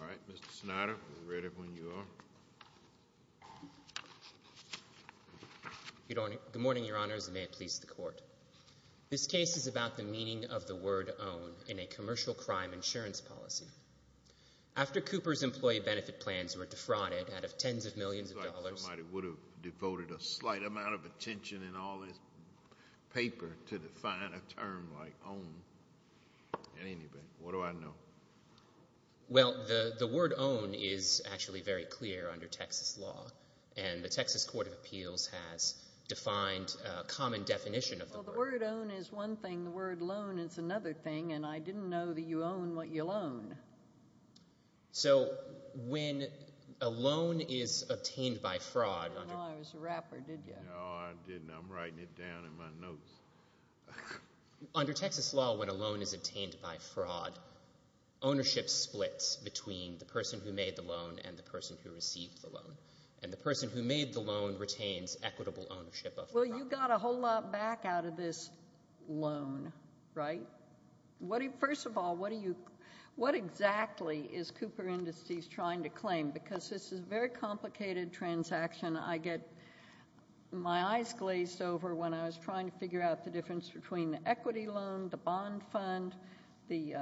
All right, Mr. Snyder, we're ready when you are. Good morning, Your Honors, and may it please the Court. This case is about the meaning of the word own in a commercial crime insurance policy. After Cooper's employee benefit plans were defrauded out of tens of millions of dollars It's like somebody would have devoted a slight amount of attention in all this paper to define a term like own, at any rate, what do I know? Well the word own is actually very clear under Texas law, and the Texas Court of Appeals has defined a common definition of the word. Well the word own is one thing, the word loan is another thing, and I didn't know that you own what you loan. So when a loan is obtained by fraud under I didn't know I was a rapper, did you? No, I didn't. I'm writing it down in my notes. Under Texas law, when a loan is obtained by fraud, ownership splits between the person who made the loan and the person who received the loan, and the person who made the loan retains equitable ownership of the property. Well you got a whole lot back out of this loan, right? First of all, what exactly is Cooper Industries trying to claim? Because this is a very complicated transaction. I get my eyes glazed over when I was trying to figure out the difference between the equity loan, the bond fund, the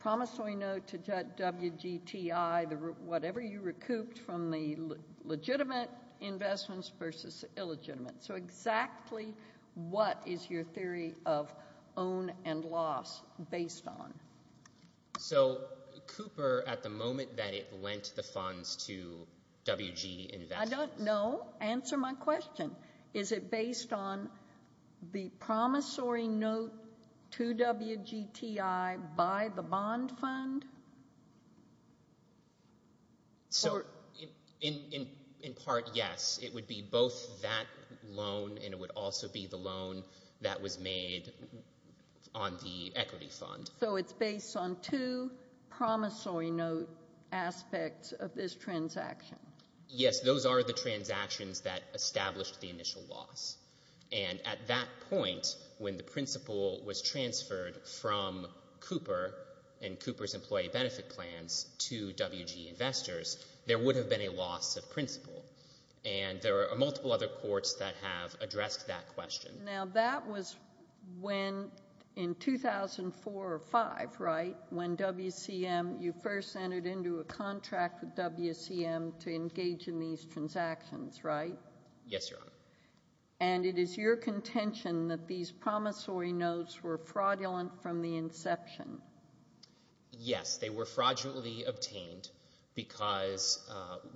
promissory note to WGTI, whatever you recouped from the legitimate investments versus illegitimate. So exactly what is your theory of own and loss based on? So, Cooper, at the moment that it lent the funds to WG Investments I don't know. Answer my question. Is it based on the promissory note to WGTI by the bond fund? So, in part, yes. It would be both that loan and it would also be the loan that was made on the equity fund. So it's based on two promissory note aspects of this transaction? Yes, those are the transactions that established the initial loss. And at that point, when the principal was transferred from Cooper and Cooper's employee benefit plans to WG Investors, there would have been a loss of principal. And there are multiple other courts that have addressed that question. Now that was when, in 2004 or 5, right? When WCM, you first entered into a contract with WCM to engage in these transactions, right? Yes, Your Honor. And it is your contention that these promissory notes were fraudulent from the inception? Yes, they were fraudulently obtained because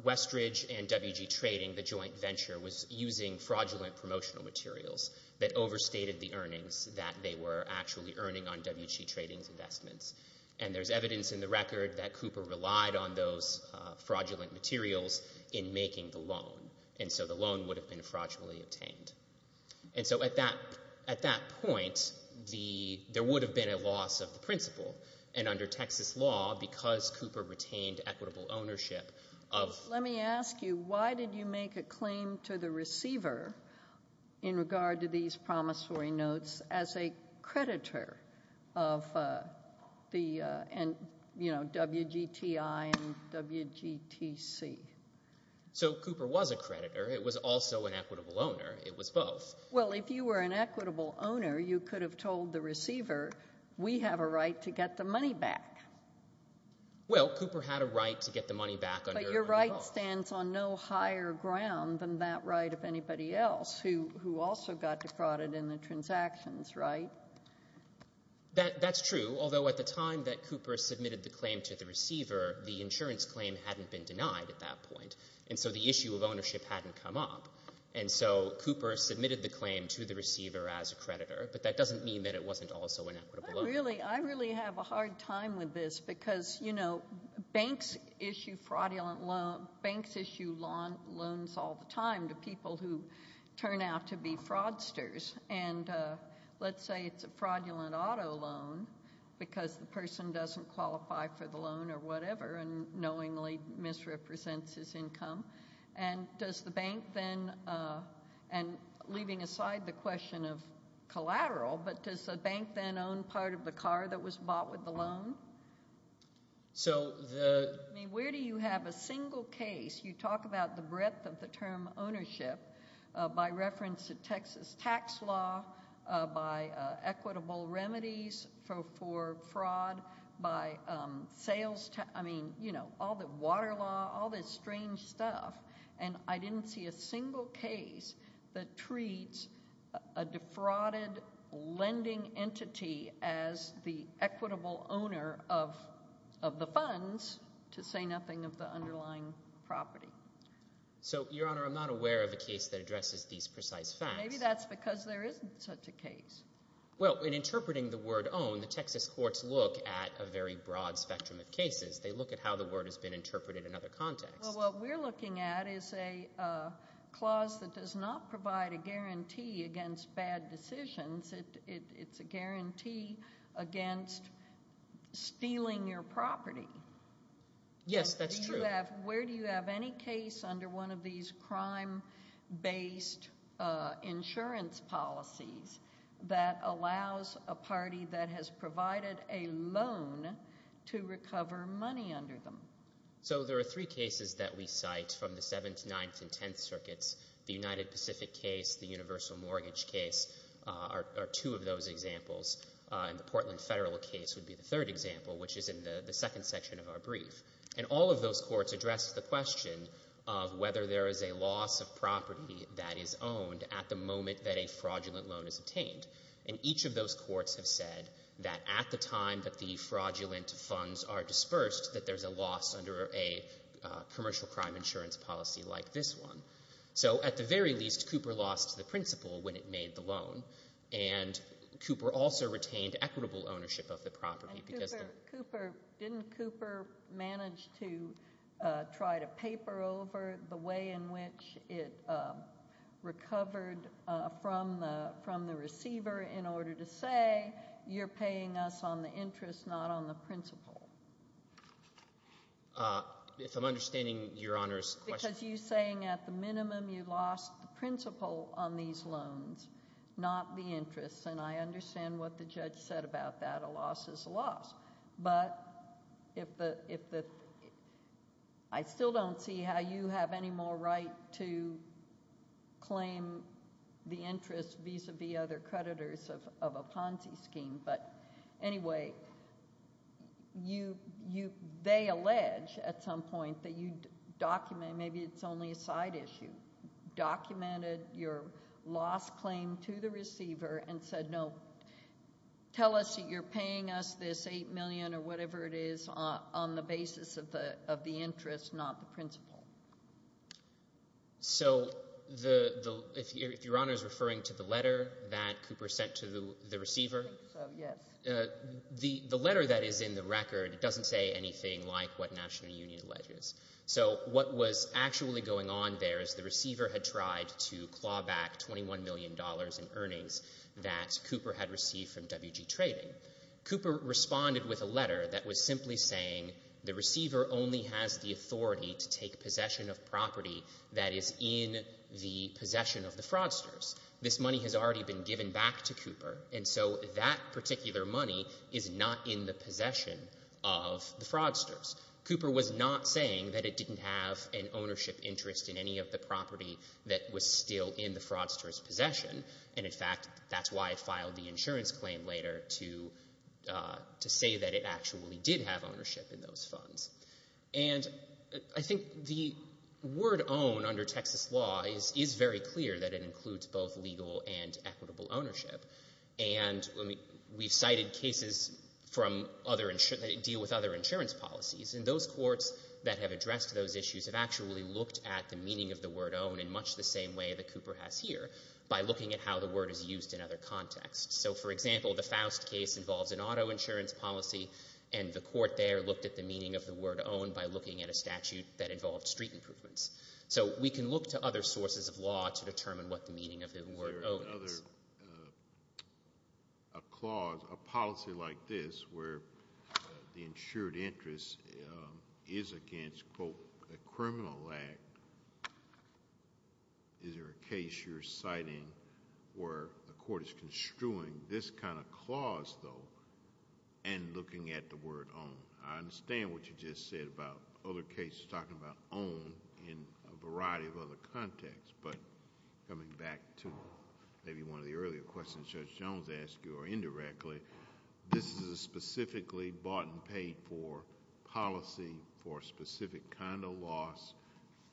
Westridge and WG Trading, the joint venture, was using fraudulent promotional materials that overstated the earnings that they were actually earning on WG Trading's investments. And there's evidence in the record that Cooper relied on those fraudulent materials in making the loan. And so the loan would have been fraudulently obtained. And so at that point, there would have been a loss of the principal. And under Texas law, because Cooper retained equitable ownership of— Let me ask you, why did you make a claim to the receiver in regard to these promissory notes as a creditor of WGTI and WGTC? So Cooper was a creditor. It was also an equitable owner. It was both. Well, if you were an equitable owner, you could have told the receiver, we have a right to get the money back. Well, Cooper had a right to get the money back under— But your right stands on no higher ground than that right of anybody else who also got defrauded in the transactions, right? That's true, although at the time that Cooper submitted the claim to the receiver, the insurance claim hadn't been denied at that point. And so the issue of ownership hadn't come up. And so Cooper submitted the claim to the receiver as a creditor, but that doesn't mean that it wasn't also an equitable owner. I really have a hard time with this because, you know, banks issue fraudulent loans all the time to people who turn out to be fraudsters. And let's say it's a fraudulent auto loan because the person doesn't qualify for the loan or whatever and knowingly misrepresents his income, and does the bank then—and leaving aside the question of collateral, but does the bank then own part of the car that was bought with the loan? So the— I mean, where do you have a single case? You talk about the breadth of the term ownership by reference to Texas tax law, by equitable remedies for fraud, by sales—I mean, you know, all the water law, all this strange stuff. And I didn't see a single case that treats a defrauded lending entity as the equitable owner of the funds to say nothing of the underlying property. So Your Honor, I'm not aware of a case that addresses these precise facts. Maybe that's because there isn't such a case. Well, in interpreting the word own, the Texas courts look at a very broad spectrum of cases. They look at how the word has been interpreted in other contexts. Well, what we're looking at is a clause that does not provide a guarantee against bad decisions. It's a guarantee against stealing your property. Yes, that's true. Where do you have any case under one of these crime-based insurance policies that allows a party that has provided a loan to recover money under them? So there are three cases that we cite from the Seventh, Ninth, and Tenth Circuits. The United Pacific case, the universal mortgage case are two of those examples, and the Portland federal case would be the third example, which is in the second section of our brief. And all of those courts address the question of whether there is a loss of property that is owned at the moment that a fraudulent loan is obtained. And each of those courts have said that at the time that the fraudulent funds are dispersed, that there's a loss under a commercial crime insurance policy like this one. So at the very least, Cooper lost the principal when it made the loan, and Cooper also retained equitable ownership of the property because the... Didn't Cooper manage to try to paper over the way in which it recovered from the receiver in order to say, you're paying us on the interest, not on the principal? If I'm understanding Your Honor's question... Because you're saying at the minimum you lost the principal on these loans, not the interest. And I understand what the judge said about that. A loss is a loss. But if the... I still don't see how you have any more right to claim the interest vis-a-vis other creditors of a Ponzi scheme. But anyway, they allege at some point that you document... Maybe it's only a side issue. Documented your loss claim to the receiver and said, no, tell us that you're paying us this $8 million or whatever it is on the basis of the interest, not the principal. So if Your Honor is referring to the letter that Cooper sent to the receiver... So yes. The letter that is in the record doesn't say anything like what National Union alleges. So what was actually going on there is the receiver had tried to claw back $21 million in earnings that Cooper had received from WG Trading. Cooper responded with a letter that was simply saying the receiver only has the authority to take possession of property that is in the possession of the fraudsters. This money has already been given back to Cooper. And so that particular money is not in the possession of the fraudsters. Cooper was not saying that it didn't have an ownership interest in any of the property that was still in the fraudsters' possession. And in fact, that's why I filed the insurance claim later to say that it actually did have ownership in those funds. And I think the word own under Texas law is very clear that it includes both legal and equitable ownership. And we've cited cases that deal with other insurance policies. And those courts that have addressed those issues have actually looked at the meaning of the word own in much the same way that Cooper has here, by looking at how the word is used in other contexts. So for example, the Faust case involves an auto insurance policy, and the court there looked at the meaning of the word own by looking at a statute that involved street improvements. So we can look to other sources of law to determine what the meaning of the word own is. A clause, a policy like this, where the insured interest is against, quote, a criminal act, is there a case you're citing where the court is construing this kind of clause, though, and looking at the word own? I understand what you just said about other cases talking about own in a variety of other contexts. But coming back to maybe one of the earlier questions Judge Jones asked you, or indirectly, this is a specifically bought and paid for policy for a specific kind of loss.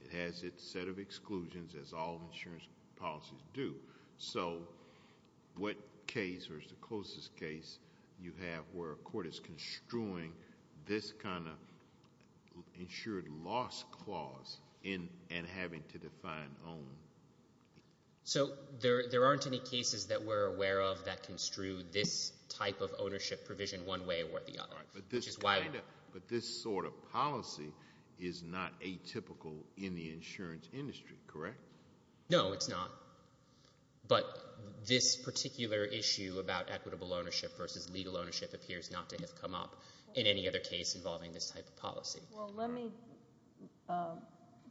It has its set of exclusions, as all insurance policies do. So what case or is the closest case you have where a court is construing this kind of loss clause and having to define own? So there aren't any cases that we're aware of that construe this type of ownership provision one way or the other. But this sort of policy is not atypical in the insurance industry, correct? No, it's not. But this particular issue about equitable ownership versus legal ownership appears not Well, let me,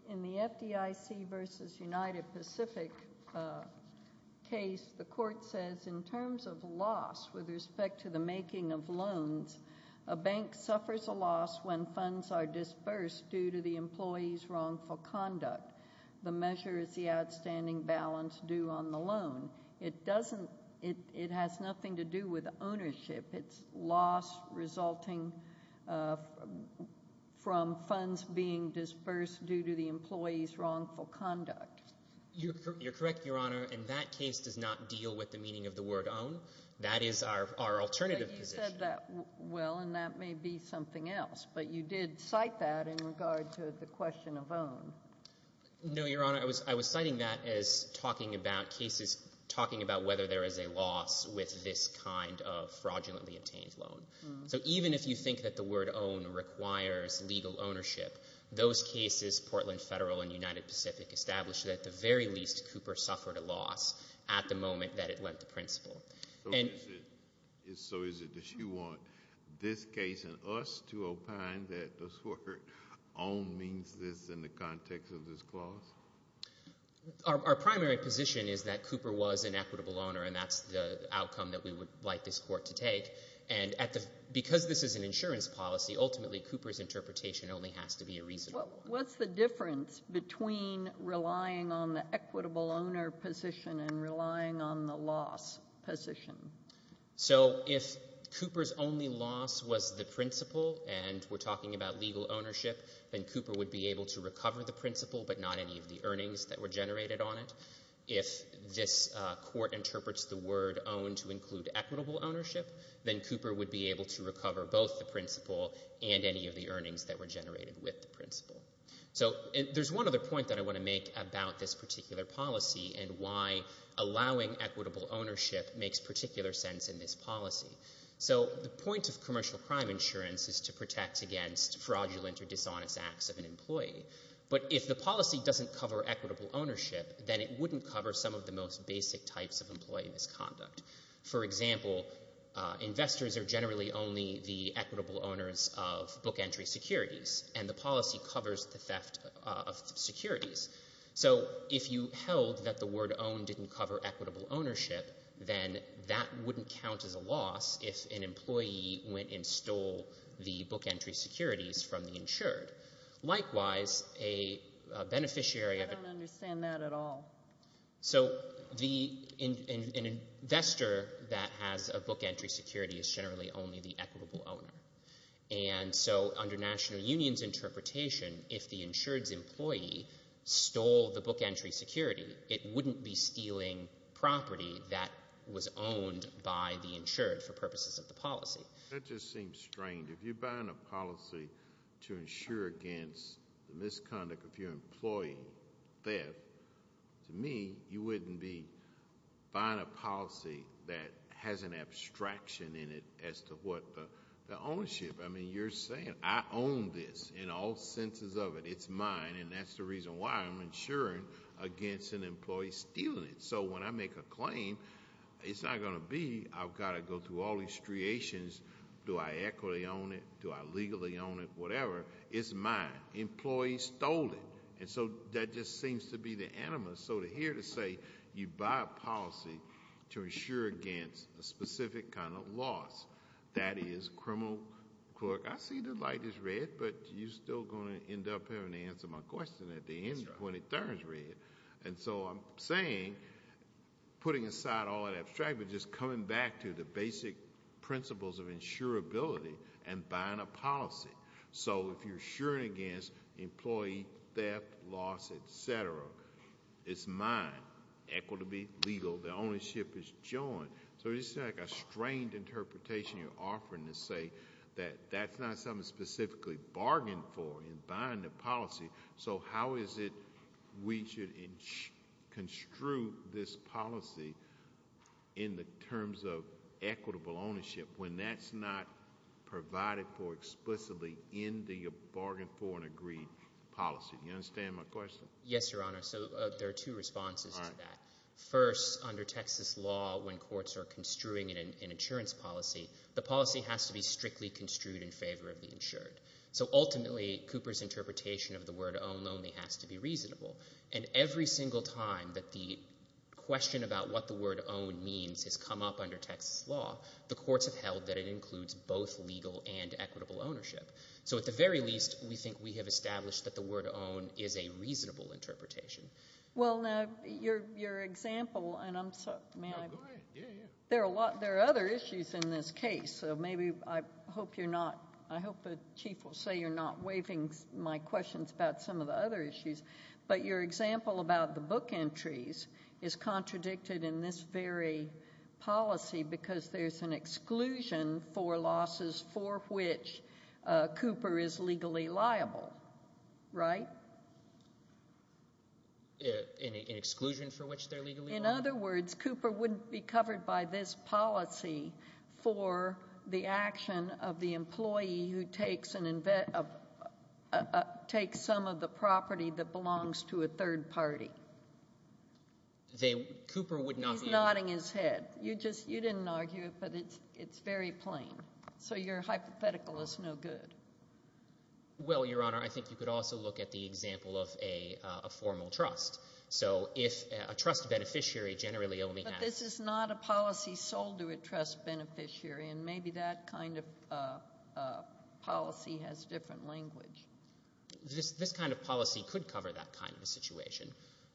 in the FDIC versus United Pacific case, the court says in terms of loss with respect to the making of loans, a bank suffers a loss when funds are dispersed due to the employee's wrongful conduct. The measure is the outstanding balance due on the loan. It doesn't, it has nothing to do with ownership. It's loss resulting from funds being dispersed due to the employee's wrongful conduct. You're correct, Your Honor. And that case does not deal with the meaning of the word own. That is our alternative position. But you said that well, and that may be something else. But you did cite that in regard to the question of own. No, Your Honor. I was citing that as talking about cases, talking about whether there is a loss with this kind of fraudulently obtained loan. So even if you think that the word own requires legal ownership, those cases, Portland Federal and United Pacific, establish that at the very least, Cooper suffered a loss at the moment that it lent the principal. So is it that you want this case and us to opine that this word own means this in the context of this clause? Our primary position is that Cooper was an equitable owner, and that's the outcome that we would like this court to take. And at the, because this is an insurance policy, ultimately Cooper's interpretation only has to be a reasonable one. What's the difference between relying on the equitable owner position and relying on the loss position? So if Cooper's only loss was the principal, and we're talking about legal ownership, then Cooper would be able to recover the principal, but not any of the earnings that were generated on it. If this court interprets the word own to include equitable ownership, then Cooper would be able to recover both the principal and any of the earnings that were generated with the principal. So there's one other point that I want to make about this particular policy and why allowing equitable ownership makes particular sense in this policy. So the point of commercial crime insurance is to protect against fraudulent or dishonest acts of an employee. But if the policy doesn't cover equitable ownership, then it wouldn't cover some of the most basic types of employee misconduct. For example, investors are generally only the equitable owners of book entry securities, and the policy covers the theft of securities. So if you held that the word own didn't cover equitable ownership, then that wouldn't count as a loss if an employee went and stole the book entry securities from the insured. Likewise, a beneficiary of— I don't understand that at all. So an investor that has a book entry security is generally only the equitable owner. And so under national union's interpretation, if the insured's employee stole the book insured for purposes of the policy. That just seems strange. If you're buying a policy to insure against the misconduct of your employee theft, to me, you wouldn't be buying a policy that has an abstraction in it as to what the ownership. I mean, you're saying I own this in all senses of it. It's mine, and that's the reason why I'm insuring against an employee stealing it. So when I make a claim, it's not going to be I've got to go through all these striations. Do I equitably own it? Do I legally own it? Whatever. It's mine. Employee stole it. And so that just seems to be the animus. So to hear to say you buy a policy to insure against a specific kind of loss, that is criminal clerk—I see the light is red, but you're still going to end up having to answer my question at the end when it turns red. And so I'm saying, putting aside all that abstract, but just coming back to the basic principles of insurability and buying a policy. So if you're insuring against employee theft, loss, etc., it's mine, equitably legal. The ownership is joined. So it's like a strained interpretation you're offering to say that that's not something specifically bargained for in buying the policy. So how is it we should construe this policy in the terms of equitable ownership when that's not provided for explicitly in the bargain for and agreed policy? You understand my question? Yes, Your Honor. So there are two responses to that. First, under Texas law, when courts are construing an insurance policy, the policy has to be strictly construed in favor of the insured. So ultimately, Cooper's interpretation of the word own only has to be reasonable. And every single time that the question about what the word own means has come up under Texas law, the courts have held that it includes both legal and equitable ownership. So at the very least, we think we have established that the word own is a reasonable interpretation. Well, now, your example—and I'm sorry, may I? No, go ahead. Yeah, yeah. There are a lot—there are other issues in this case. So maybe I hope you're not—I hope the chief will say you're not waiving my questions about some of the other issues. But your example about the book entries is contradicted in this very policy because there's an exclusion for losses for which Cooper is legally liable, right? An exclusion for which they're legally liable? In other words, Cooper wouldn't be covered by this policy for the action of the employee who takes an—takes some of the property that belongs to a third party. Cooper would not be— He's nodding his head. You just—you didn't argue it, but it's very plain. So your hypothetical is no good. Well, Your Honor, I think you could also look at the example of a formal trust. So if a trust beneficiary generally only has— But this is not a policy sold to a trust beneficiary. And maybe that kind of policy has different language. This kind of policy could cover that kind of a situation.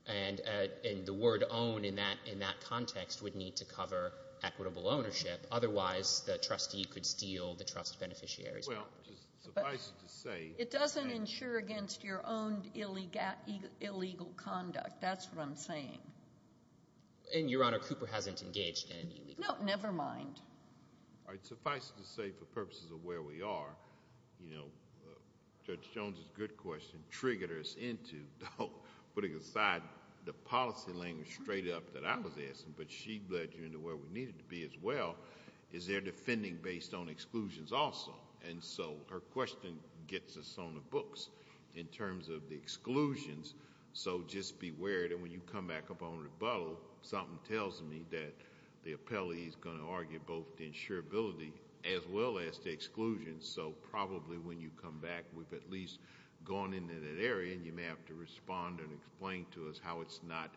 And the word own in that context would need to cover equitable ownership. Otherwise, the trustee could steal the trust beneficiary's property. Well, suffice it to say— It doesn't insure against your own illegal conduct. That's what I'm saying. And Your Honor, Cooper hasn't engaged in any illegal— No, never mind. All right. Suffice it to say, for purposes of where we are, you know, Judge Jones's good question triggered us into putting aside the policy language straight up that I was asking, but she led you into where we needed to be as well. Is there defending based on exclusions also? And so her question gets us on the books in terms of the exclusions. So just beware that when you come back up on rebuttal, something tells me that the appellee is going to argue both the insurability as well as the exclusion. So probably when you come back, we've at least gone into that area, and you may have to respond and explain to us how it's not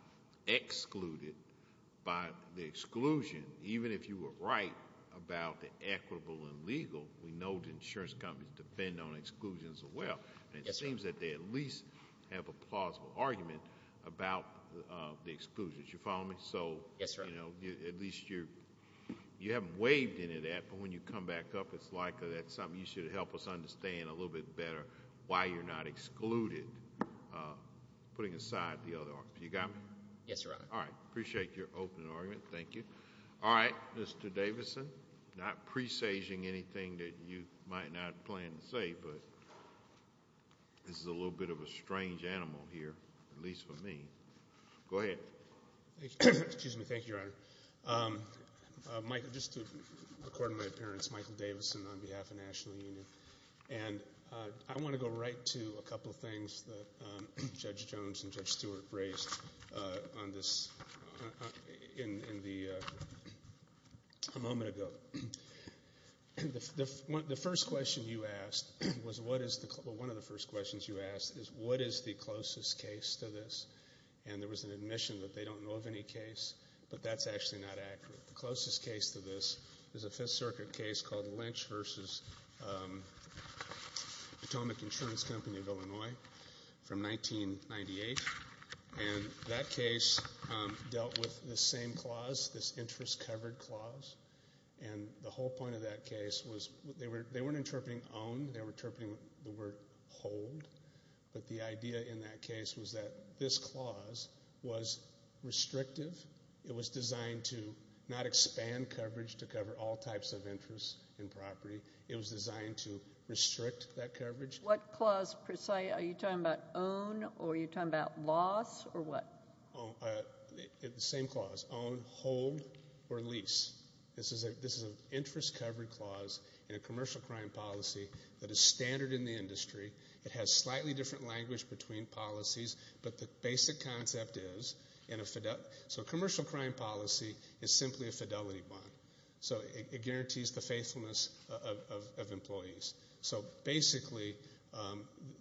excluded by the exclusion. Even if you were right about the equitable and legal, we know the insurance companies depend on exclusions as well, and it seems that they at least have a plausible argument about the exclusions. You follow me? So— Yes, Your Honor. At least you haven't waived any of that, but when you come back up, it's like that's something you should help us understand a little bit better why you're not excluded, putting aside the other arguments. You got me? Yes, Your Honor. All right. Appreciate your open argument. Thank you. All right. Mr. Davison, not presaging anything that you might not plan to say, but this is a little bit of a strange animal here, at least for me. Go ahead. Excuse me. Thank you, Your Honor. Just to record my appearance, Michael Davison on behalf of the National Union. And I want to go right to a couple of things that Judge Jones and Judge Stewart raised on this in the—a moment ago. The first question you asked was what is the—well, one of the first questions you asked is what is the closest case to this? And there was an admission that they don't know of any case, but that's actually not accurate. The closest case to this is a Fifth Circuit case called Lynch v. Potomac Insurance Company of Illinois from 1998. And that case dealt with the same clause, this interest-covered clause. And the whole point of that case was they weren't interpreting own, they were interpreting the word hold. But the idea in that case was that this clause was restrictive. It was designed to not expand coverage to cover all types of interest in property. It was designed to restrict that coverage. What clause per se? Are you talking about own or are you talking about loss or what? The same clause, own, hold, or lease. This is an interest-covered clause in a commercial crime policy that is standard in the industry. It has slightly different language between policies, but the basic concept is in a—so a commercial crime policy is simply a fidelity bond. So it guarantees the faithfulness of employees. So basically,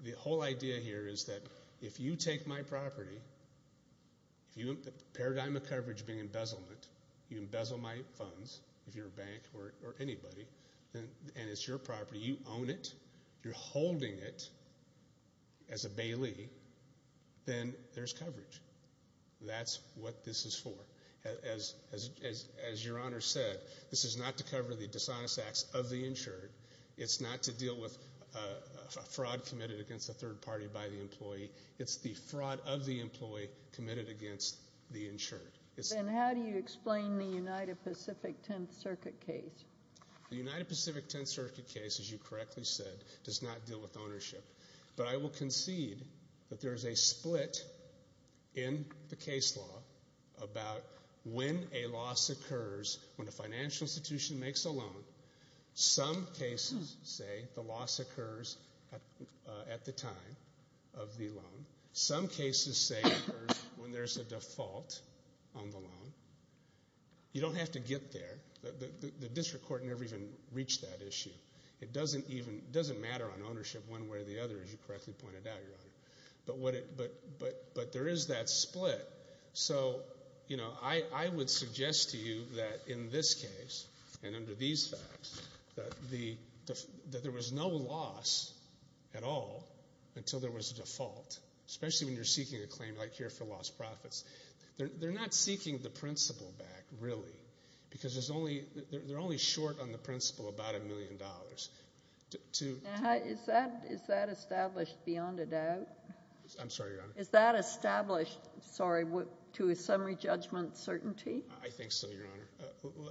the whole idea here is that if you take my property, if you—the paradigm of coverage being embezzlement, you embezzle my funds, if you're a bank or anybody, and it's your property, you own it, you're holding it as a bailee, then there's coverage. That's what this is for. As Your Honor said, this is not to cover the dishonest acts of the insured. It's not to deal with a fraud committed against a third party by the employee. It's the fraud of the employee committed against the insured. Then how do you explain the United Pacific Tenth Circuit case? The United Pacific Tenth Circuit case, as you correctly said, does not deal with ownership. But I will concede that there is a split in the case law about when a loss occurs, when a financial institution makes a loan. Some cases say the loss occurs at the time of the loan. Some cases say it occurs when there's a default on the loan. You don't have to get there. The district court never even reached that issue. It doesn't even—it doesn't matter on ownership one way or the other, as you correctly pointed out, Your Honor. But what it—but there is that split. So, you know, I would suggest to you that in this case, and under these facts, that there was no loss at all until there was a default, especially when you're seeking a claim like here for lost profits. They're not seeking the principal back, really, because there's only—they're only short on the principal about a million dollars. I'm sorry, Your Honor. Is that established, sorry, to a summary judgment certainty? I think so, Your Honor.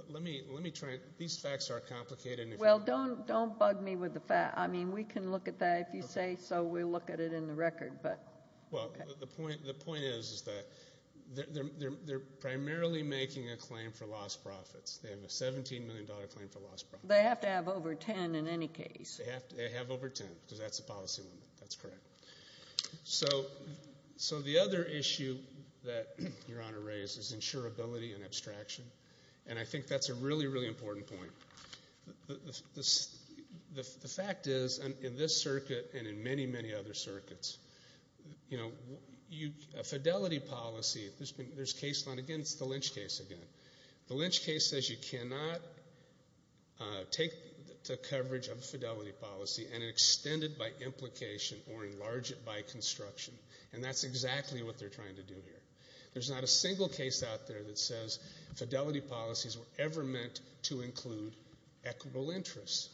Let me—let me try—these facts are complicated. Well, don't—don't bug me with the fact—I mean, we can look at that. If you say so, we'll look at it in the record. But— Well, the point—the point is that they're primarily making a claim for lost profits. They have a $17 million claim for lost profits. They have to have over 10 in any case. They have to—they have over 10, because that's the policy limit. That's correct. So—so the other issue that Your Honor raised is insurability and abstraction. And I think that's a really, really important point. The fact is, in this circuit and in many, many other circuits, you know, you—a fidelity policy, there's been—there's case law—again, it's the Lynch case again. The Lynch case says you cannot take the coverage of a fidelity policy and extend it by implication or enlarge it by construction. And that's exactly what they're trying to do here. There's not a single case out there that says fidelity policies were ever meant to include equitable interests,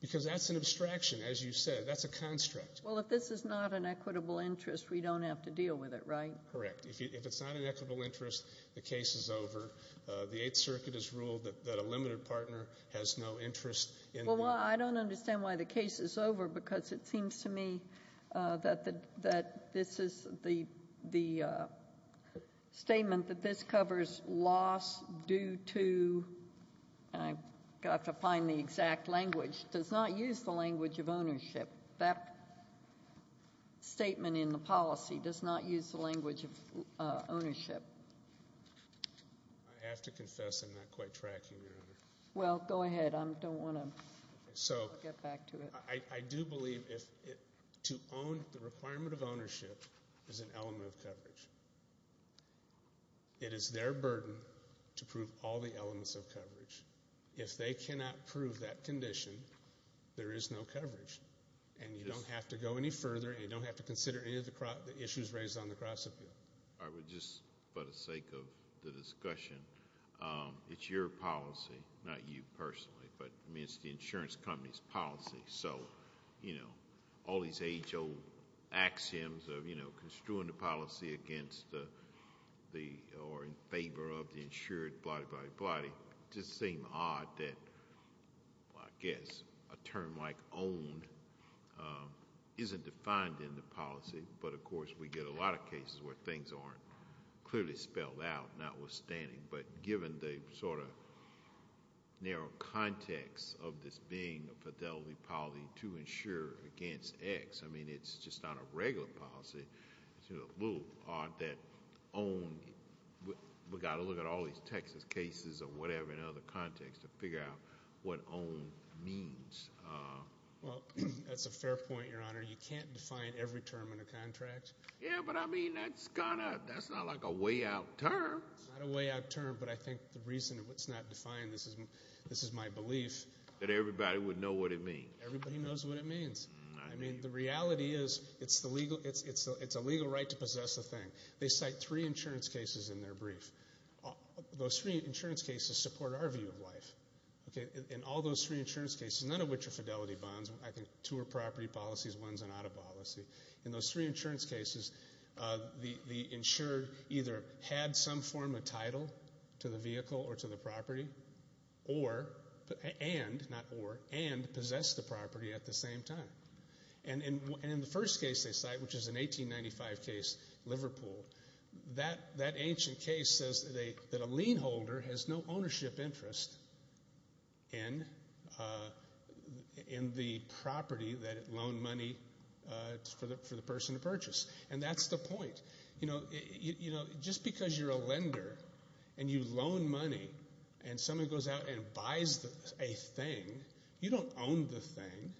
because that's an abstraction. As you said, that's a construct. Well, if this is not an equitable interest, we don't have to deal with it, right? Correct. If it's not an equitable interest, the case is over. The Eighth Circuit has ruled that a limited partner has no interest in— I don't understand why the case is over, because it seems to me that the—that this is the—the statement that this covers loss due to—and I've got to find the exact language—does not use the language of ownership. That statement in the policy does not use the language of ownership. I have to confess I'm not quite tracking, Your Honor. Well, go ahead. I don't want to— So— —get back to it. I do believe if—to own the requirement of ownership is an element of coverage. It is their burden to prove all the elements of coverage. If they cannot prove that condition, there is no coverage. And you don't have to go any further, and you don't have to consider any of the issues raised on the cross-appeal. I would just, for the sake of the discussion, it's your policy, not you personally, but I mean, it's the insurance company's policy. So, you know, all these age-old axioms of, you know, construing the policy against the—or in favor of the insured, blah-di-blah-di-blah-di, just seem odd that, I guess, a term like policy—but, of course, we get a lot of cases where things aren't clearly spelled out, notwithstanding. But given the sort of narrow context of this being a fidelity policy to insure against X, I mean, it's just not a regular policy. It's a little odd that own—we've got to look at all these Texas cases or whatever in other contexts to figure out what own means. Well, that's a fair point, Your Honor. You can't define every term in a contract. Yeah, but I mean, that's kind of—that's not like a way-out term. It's not a way-out term, but I think the reason it's not defined, this is my belief— That everybody would know what it means. Everybody knows what it means. I mean, the reality is it's the legal—it's a legal right to possess a thing. They cite three insurance cases in their brief. Those three insurance cases support our view of life, okay? And all those three insurance cases, none of which are fidelity bonds—I think two are property policies, one's an auto policy. In those three insurance cases, the insured either had some form of title to the vehicle or to the property or—and, not or—and possessed the property at the same time. And in the first case they cite, which is an 1895 case, Liverpool, that ancient case says that a lien holder has no ownership interest in the property that it loaned money for the person to purchase. And that's the point. Just because you're a lender and you loan money and someone goes out and buys a thing, you don't own the thing.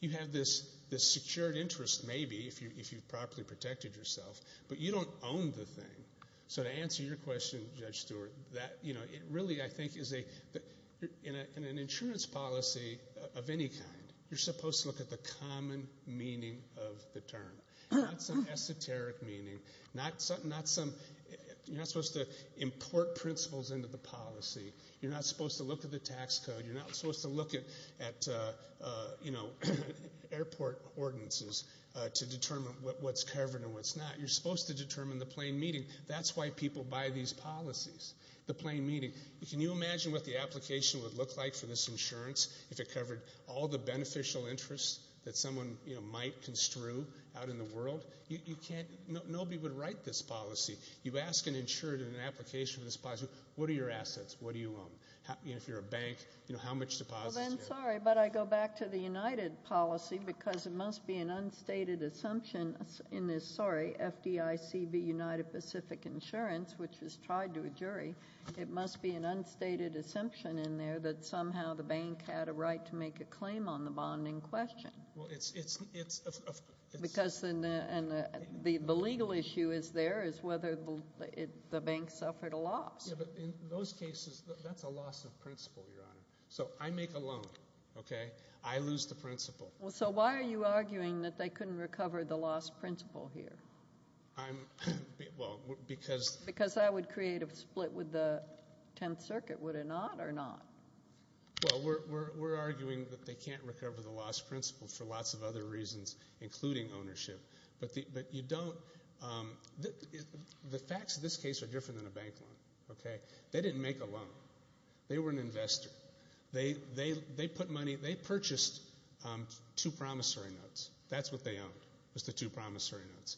You have this secured interest, maybe, if you've properly protected yourself, but you don't own the thing. So to answer your question, Judge Stewart, that, you know, it really, I think, is a—in an insurance policy of any kind, you're supposed to look at the common meaning of the term, not some esoteric meaning, not some—you're not supposed to import principles into the policy. You're not supposed to look at the tax code. You're not supposed to look at, you know, airport ordinances to determine what's covered and what's not. You're supposed to determine the plain meaning. That's why people buy these policies, the plain meaning. Can you imagine what the application would look like for this insurance if it covered all the beneficial interests that someone, you know, might construe out in the world? You can't—nobody would write this policy. You ask an insurer in an application for this policy, what are your assets? What do you own? If you're a bank, you know, how much deposits do you have? Well, then, sorry, but I go back to the United policy because it must be an unstated assumption in this, sorry, FDICB United Pacific Insurance, which was tried to a jury, it must be an unstated assumption in there that somehow the bank had a right to make a claim on the bond in question. Well, it's— Because the legal issue is there is whether the bank suffered a loss. Yeah, but in those cases, that's a loss of principle, Your Honor. So I make a loan, okay? I lose the principle. So why are you arguing that they couldn't recover the loss principle here? I'm—well, because— Because I would create a split with the Tenth Circuit, would it not, or not? Well, we're arguing that they can't recover the loss principle for lots of other reasons, including ownership. But you don't—the facts of this case are different than a bank loan, okay? They didn't make a loan. They were an investor. They put money—they purchased two promissory notes. That's what they owned, was the two promissory notes.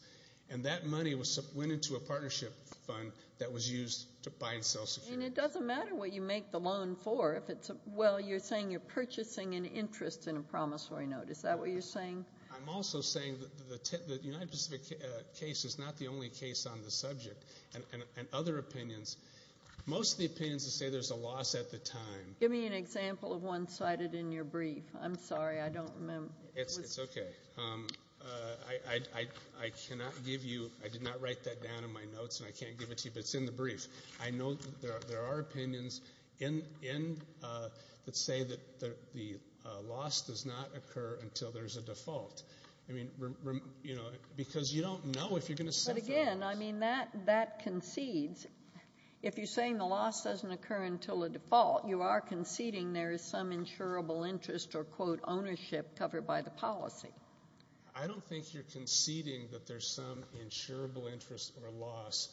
And that money went into a partnership fund that was used to buy and sell securities. And it doesn't matter what you make the loan for if it's—well, you're saying you're purchasing an interest in a promissory note. Is that what you're saying? I'm also saying that the United Pacific case is not the only case on the subject. And other opinions—most of the opinions say there's a loss at the time. Give me an example of one cited in your brief. I'm sorry. I don't remember. It's okay. I cannot give you—I did not write that down in my notes, and I can't give it to you, but it's in the brief. I know there are opinions in—that say that the loss does not occur until there's a default. I mean, you know, because you don't know if you're going to suffer— But again, I mean, that concedes. If you're saying the loss doesn't occur until a default, you are conceding there is some insurable interest or, quote, ownership covered by the policy. I don't think you're conceding that there's some insurable interest or loss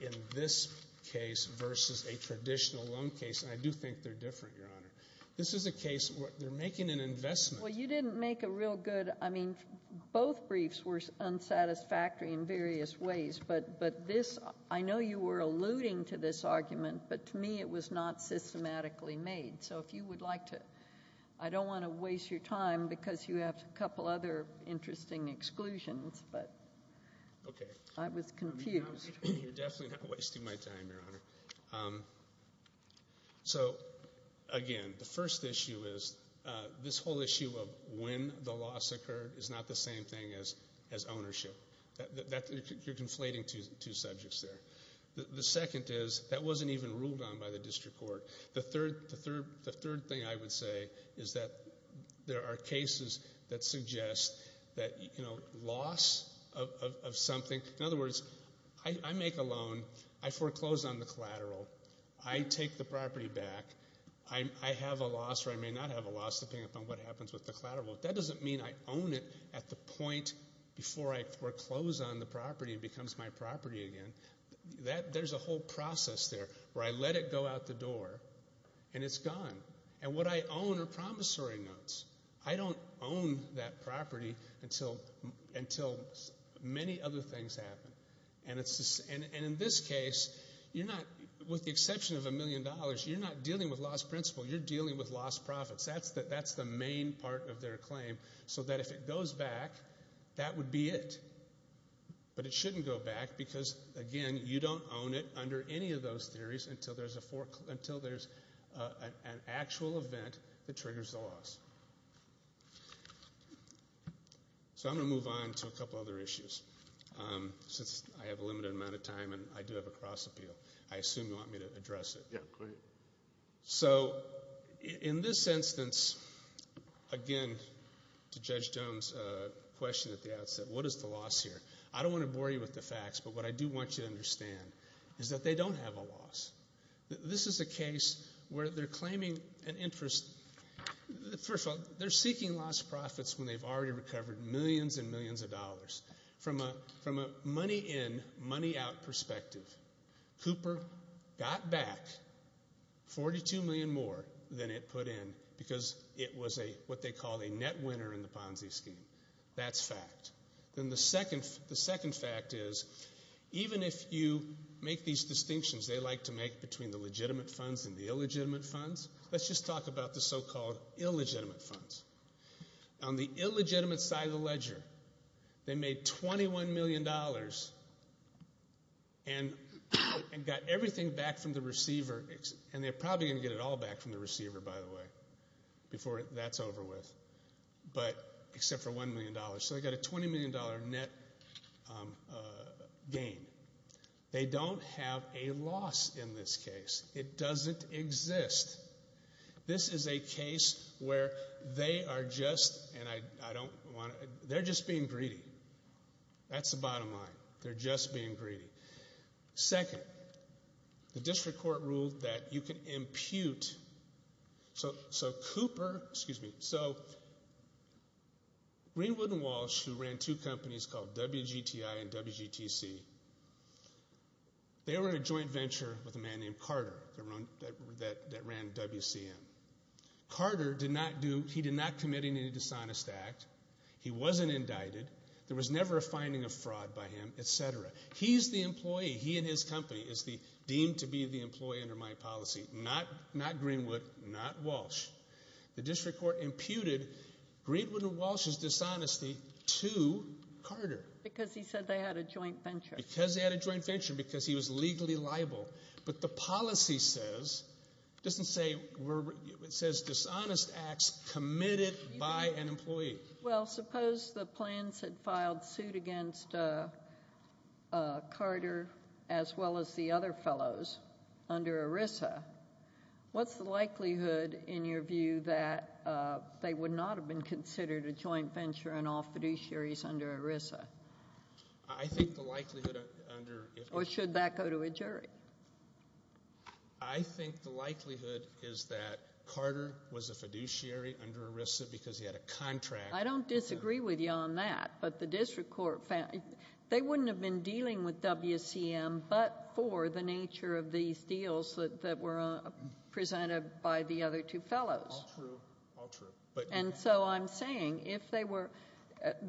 in this case versus a traditional loan case. And I do think they're different, Your Honor. This is a case where they're making an investment. Well, you didn't make a real good—I mean, both briefs were unsatisfactory in various ways, but this—I know you were alluding to this argument, but to me it was not systematically made. So if you would like to—I don't want to waste your time because you have a couple other interesting exclusions, but I was confused. You're definitely not wasting my time, Your Honor. So again, the first issue is this whole issue of when the loss occurred is not the same thing as ownership. That—you're conflating two subjects there. The second is that wasn't even ruled on by the district court. The third thing I would say is that there are cases that suggest that, you know, loss of something—in other words, I make a loan, I foreclose on the collateral, I take the property back, I have a loss or I may not have a loss depending upon what happens with the collateral. That doesn't mean I own it at the point before I foreclose on the property and it becomes my property again. There's a whole process there where I let it go out the door and it's gone. And what I own are promissory notes. I don't own that property until many other things happen. And in this case, you're not—with the exception of a million dollars, you're not dealing with lost principal. You're dealing with lost profits. That's the main part of their claim. So that if it goes back, that would be it. But it shouldn't go back because, again, you don't own it under any of those theories until there's an actual event that triggers the loss. So I'm going to move on to a couple other issues since I have a limited amount of time and I do have a cross appeal. Yeah, go ahead. So in this instance, again, to Judge Jones' question at the outset, what is the loss here? I don't want to bore you with the facts, but what I do want you to understand is that they don't have a loss. This is a case where they're claiming an interest— first of all, they're seeking lost profits when they've already recovered millions and millions of dollars. From a money-in, money-out perspective, Cooper got back $42 million more than it put in because it was what they call a net winner in the Ponzi scheme. That's fact. Then the second fact is, even if you make these distinctions they like to make between the legitimate funds and the illegitimate funds, let's just talk about the so-called illegitimate funds. On the illegitimate side of the ledger, they made $21 million and got everything back from the receiver— and they're probably going to get it all back from the receiver, by the way, before that's over with, except for $1 million. So they got a $20 million net gain. They don't have a loss in this case. It doesn't exist. This is a case where they are just— and I don't want to— they're just being greedy. That's the bottom line. They're just being greedy. Second, the district court ruled that you can impute— so Cooper— excuse me— so Greenwood and Walsh, who ran two companies called WGTI and WGTC, they were in a joint venture with a man named Carter that ran WCM. Carter did not do— he did not commit any dishonest act. He wasn't indicted. There was never a finding of fraud by him, etc. He's the employee. He and his company is deemed to be the employee under my policy. Not Greenwood. Not Walsh. The district court imputed Greenwood and Walsh's dishonesty to Carter. Because he said they had a joint venture. Because they had a joint venture. Because he was legally liable. But the policy says— it doesn't say we're— it says dishonest acts committed by an employee. Well, suppose the plans had filed suit against Carter as well as the other fellows under ERISA. What's the likelihood, in your view, that they would not have been considered a joint venture in all fiduciaries under ERISA? I think the likelihood under— Or should that go to a jury? I think the likelihood is that Carter was a fiduciary under ERISA because he had a contract— I don't disagree with you on that. But the district court found— they wouldn't have been dealing with WCM but for the nature of these deals that were presented by the other two fellows. All true. All true. But— And so I'm saying if they were—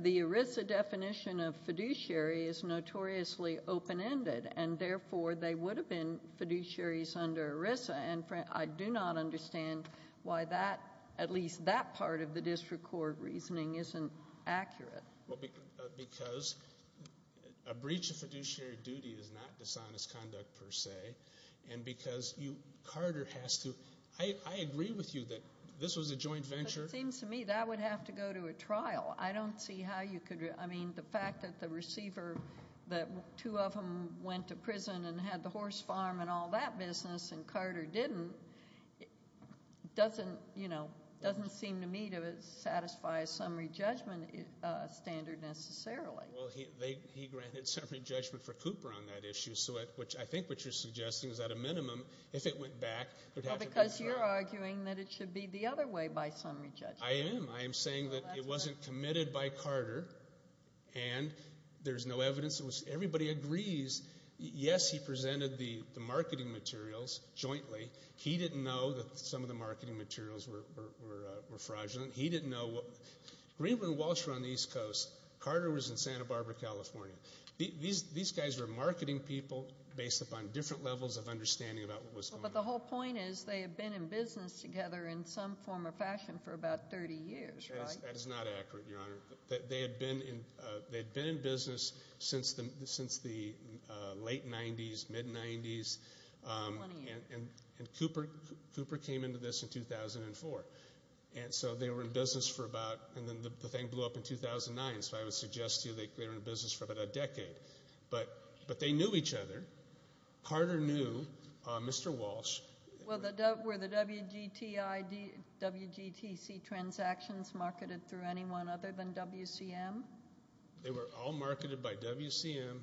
the ERISA definition of fiduciary is notoriously open-ended. And therefore, they would have been fiduciaries under ERISA. And I do not understand why that— at least that part of the district court reasoning isn't accurate. Well, because a breach of fiduciary duty is not dishonest conduct per se. And because you— Carter has to— I agree with you that this was a joint venture. But it seems to me that would have to go to a trial. I don't see how you could— I mean, the fact that the receiver— that two of them went to prison and had the horse farm and all that business and Carter didn't doesn't, you know, doesn't seem to me to satisfy a summary judgment standard necessarily. Well, he granted summary judgment for Cooper on that issue. So I think what you're suggesting is at a minimum, if it went back, there'd have to be a trial. Well, because you're arguing that it should be the other way by summary judgment. I am. I am saying that it wasn't committed by Carter. And there's no evidence. Everybody agrees. Yes, he presented the marketing materials jointly. He didn't know that some of the marketing materials were fraudulent. He didn't know— Greenwood and Walsh were on the East Coast. Carter was in Santa Barbara, California. These guys were marketing people based upon different levels of understanding about what was going on. But the whole point is they had been in business together in some form or fashion for about 30 years, right? That is not accurate, Your Honor. They had been in business since the late 90s, mid-90s, and Cooper came into this in 2004. And so they were in business for about—and then the thing blew up in 2009. So I would suggest to you they were in business for about a decade. But they knew each other. Carter knew Mr. Walsh. Were the WGTI, WGTC transactions marketed through anyone other than WCM? They were all marketed by WCM,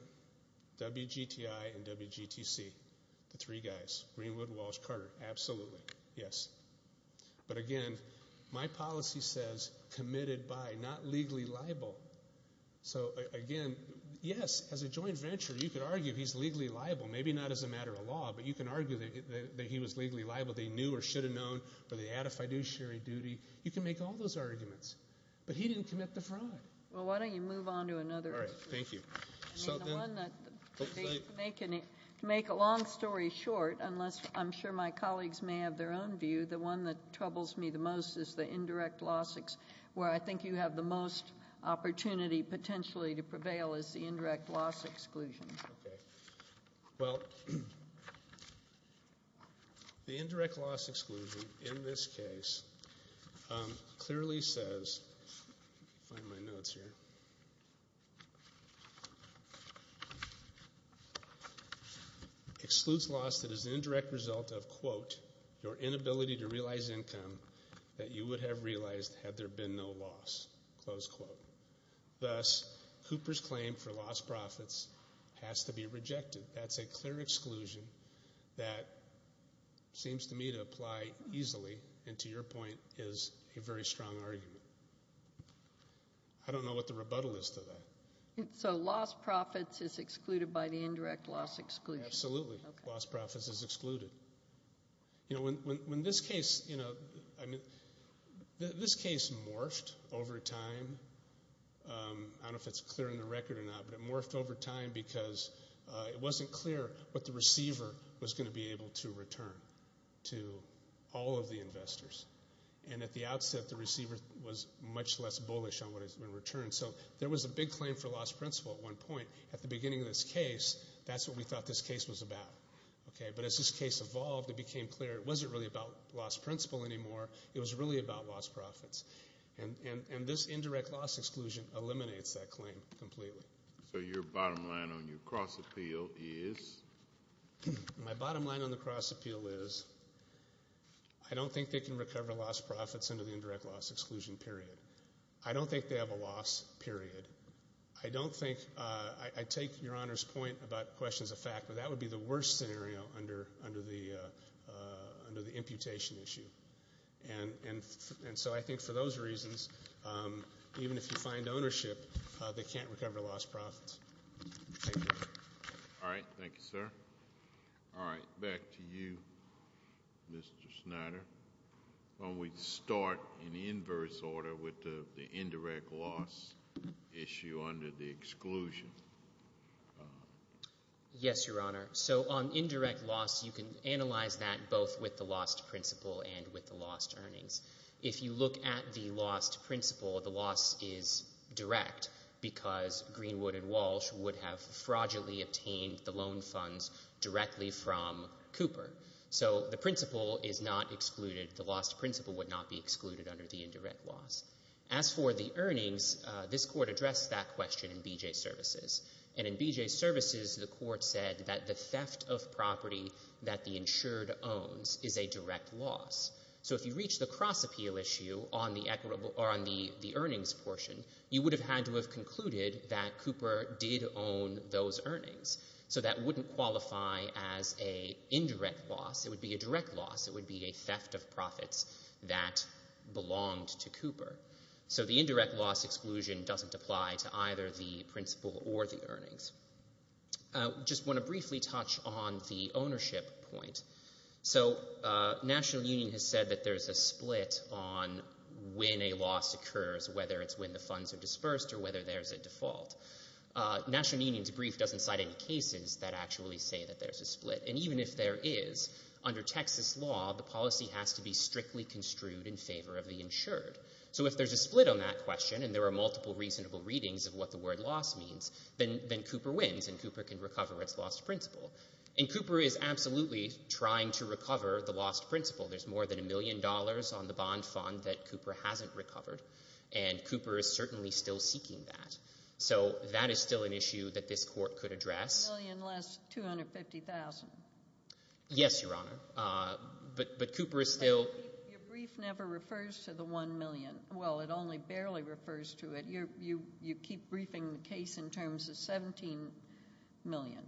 WGTI, and WGTC, the three guys, Greenwood, Walsh, Carter. Absolutely, yes. But again, my policy says committed by, not legally liable. So again, yes, as a joint venture, you could argue he's legally liable, maybe not as a matter of law, but you can argue that he was legally liable. They knew or should have known, or they had a fiduciary duty. You can make all those arguments. But he didn't commit the fraud. Well, why don't you move on to another issue? All right, thank you. I mean, the one that—to make a long story short, unless I'm sure my colleagues may have their own view, the one that troubles me the most is the indirect loss, where I think you have the most opportunity potentially to prevail, is the indirect loss exclusion. Okay. Well, the indirect loss exclusion in this case clearly says—let me find my notes here— excludes loss that is the indirect result of, quote, your inability to realize income that you would have realized had there been no loss, close quote. Thus, Cooper's claim for lost profits has to be rejected. That's a clear exclusion that seems to me to apply easily, and to your point, is a very strong argument. I don't know what the rebuttal is to that. So lost profits is excluded by the indirect loss exclusion. Absolutely. Lost profits is excluded. You know, when this case—I mean, this case morphed over time. I don't know if it's clear in the record or not, but it morphed over time because it wasn't clear what the receiver was going to be able to return to all of the investors. And at the outset, the receiver was much less bullish on what has been returned. So there was a big claim for lost principle at one point. At the beginning of this case, that's what we thought this case was about. Okay. But as this case evolved, it became clear it wasn't really about lost principle anymore. It was really about lost profits. And this indirect loss exclusion eliminates that claim completely. So your bottom line on your cross-appeal is? My bottom line on the cross-appeal is, I don't think they can recover lost profits under the indirect loss exclusion period. I don't think they have a loss period. I don't think—I take Your Honor's point about questions of fact, but that would be the worst scenario under the imputation issue. And so I think for those reasons, even if you find ownership, they can't recover lost profits. All right. Thank you, sir. All right. Back to you, Mr. Snyder. Why don't we start in inverse order with the indirect loss issue under the exclusion? Yes, Your Honor. So on indirect loss, you can analyze that both with the lost principle and with the lost earnings. If you look at the lost principle, the loss is direct because Greenwood and Walsh would have fraudulently obtained the loan funds directly from Cooper. So the principle is not excluded. The lost principle would not be excluded under the indirect loss. As for the earnings, this Court addressed that question in B.J. Services. And in B.J. Services, the Court said that the theft of property that the insured owns is a direct loss. So if you reach the cross-appeal issue on the earnings portion, you would have had to have concluded that Cooper did own those earnings. So that wouldn't qualify as a indirect loss. It would be a direct loss. It would be a theft of profits that belonged to Cooper. So the indirect loss exclusion doesn't apply to either the principle or the earnings. Just want to briefly touch on the ownership point. So National Union has said that there's a split on when a loss occurs, whether it's when the funds are dispersed or whether there's a default. National Union's brief doesn't cite any cases that actually say that there's a split. And even if there is, under Texas law, So if there's a split on that question, and there are multiple reasonable readings of what the word loss means, then Cooper wins and Cooper can recover its lost principle. And Cooper is absolutely trying to recover the lost principle. There's more than $1 million on the bond fund that Cooper hasn't recovered. And Cooper is certainly still seeking that. So that is still an issue that this Court could address. $1 million less $250,000. Yes, Your Honor. But Cooper is still... Your brief never refers to the $1 million. Well, it only barely refers to it. You keep briefing the case in terms of $17 million.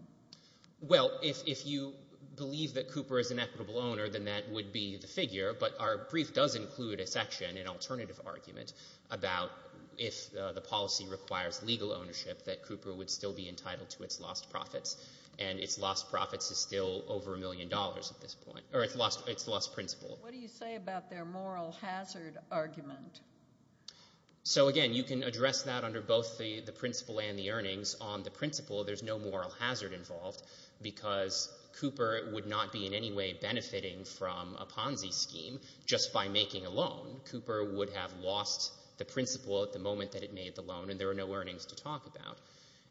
Well, if you believe that Cooper is an equitable owner, then that would be the figure. But our brief does include a section, an alternative argument, about if the policy requires legal ownership, that Cooper would still be entitled to its lost profits. And its lost profits is still over $1 million at this point. Or its lost principle. What do you say about their moral hazard argument? So again, you can address that under both the principle and the earnings. On the principle, there's no moral hazard involved because Cooper would not be in any way benefiting from a Ponzi scheme just by making a loan. Cooper would have lost the principle at the moment that it made the loan and there were no earnings to talk about.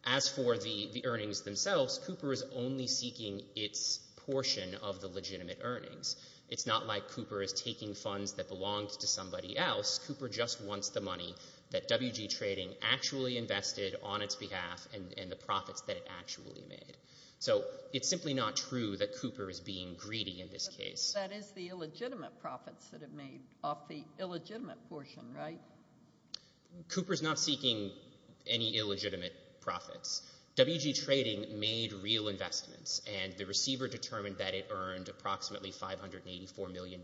As for the earnings themselves, Cooper is only seeking its portion of the legitimate earnings. It's not like Cooper is taking funds that belonged to somebody else. Cooper just wants the money that WG Trading actually invested on its behalf and the profits that it actually made. So it's simply not true that Cooper is being greedy in this case. That is the illegitimate profits that it made off the illegitimate portion, right? Cooper's not seeking any illegitimate profits. WG Trading made real investments and the receiver determined that it earned approximately $584 million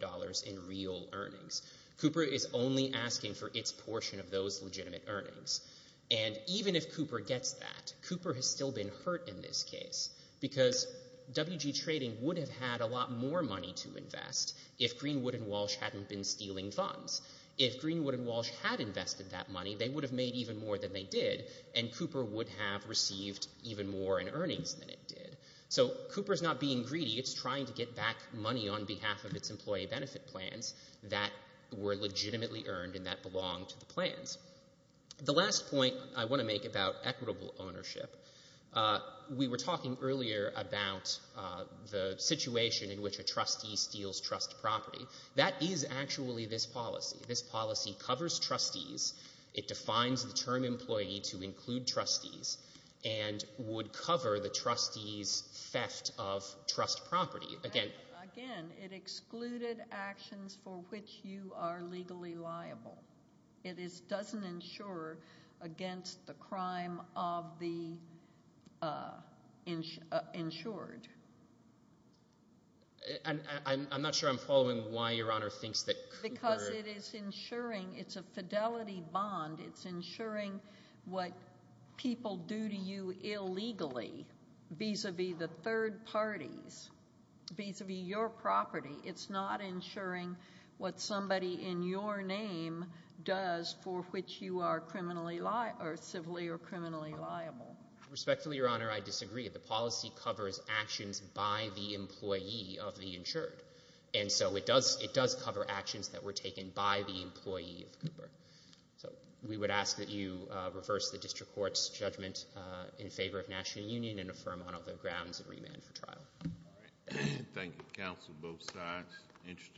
in real earnings. Cooper is only asking for its portion of those legitimate earnings. And even if Cooper gets that, Cooper has still been hurt in this case because WG Trading would have had a lot more money to invest if Greenwood and Walsh hadn't been stealing funds. If Greenwood and Walsh had invested that money, they would have made even more than they did and Cooper would have received even more in earnings than it did. Cooper's not being greedy. It's trying to get back money on behalf of its employee benefit plans that were legitimately earned and that belonged to the plans. The last point I want to make about equitable ownership, we were talking earlier about the situation in which a trustee steals trust property. That is actually this policy. This policy covers trustees. It defines the term employee to include trustees and would cover the trustee's theft of trust property. Again... Again, it excluded actions for which you are legally liable. It doesn't insure against the crime of the insured. And I'm not sure I'm following why Your Honor thinks that Cooper... Because it is insuring. It's a fidelity bond. It's insuring what people do to you illegally vis-a-vis the third parties, vis-a-vis your property. It's not insuring what somebody in your name does for which you are criminally liable or civilly or criminally liable. Respectfully, Your Honor, I disagree. The policy covers actions by the employee of the insured and so it does cover actions that were taken by the employee of Cooper. So we would ask that you reverse the district court's judgment in favor of National Union and affirm on other grounds and remand for trial. All right. Thank you, counsel. Both sides. Interesting.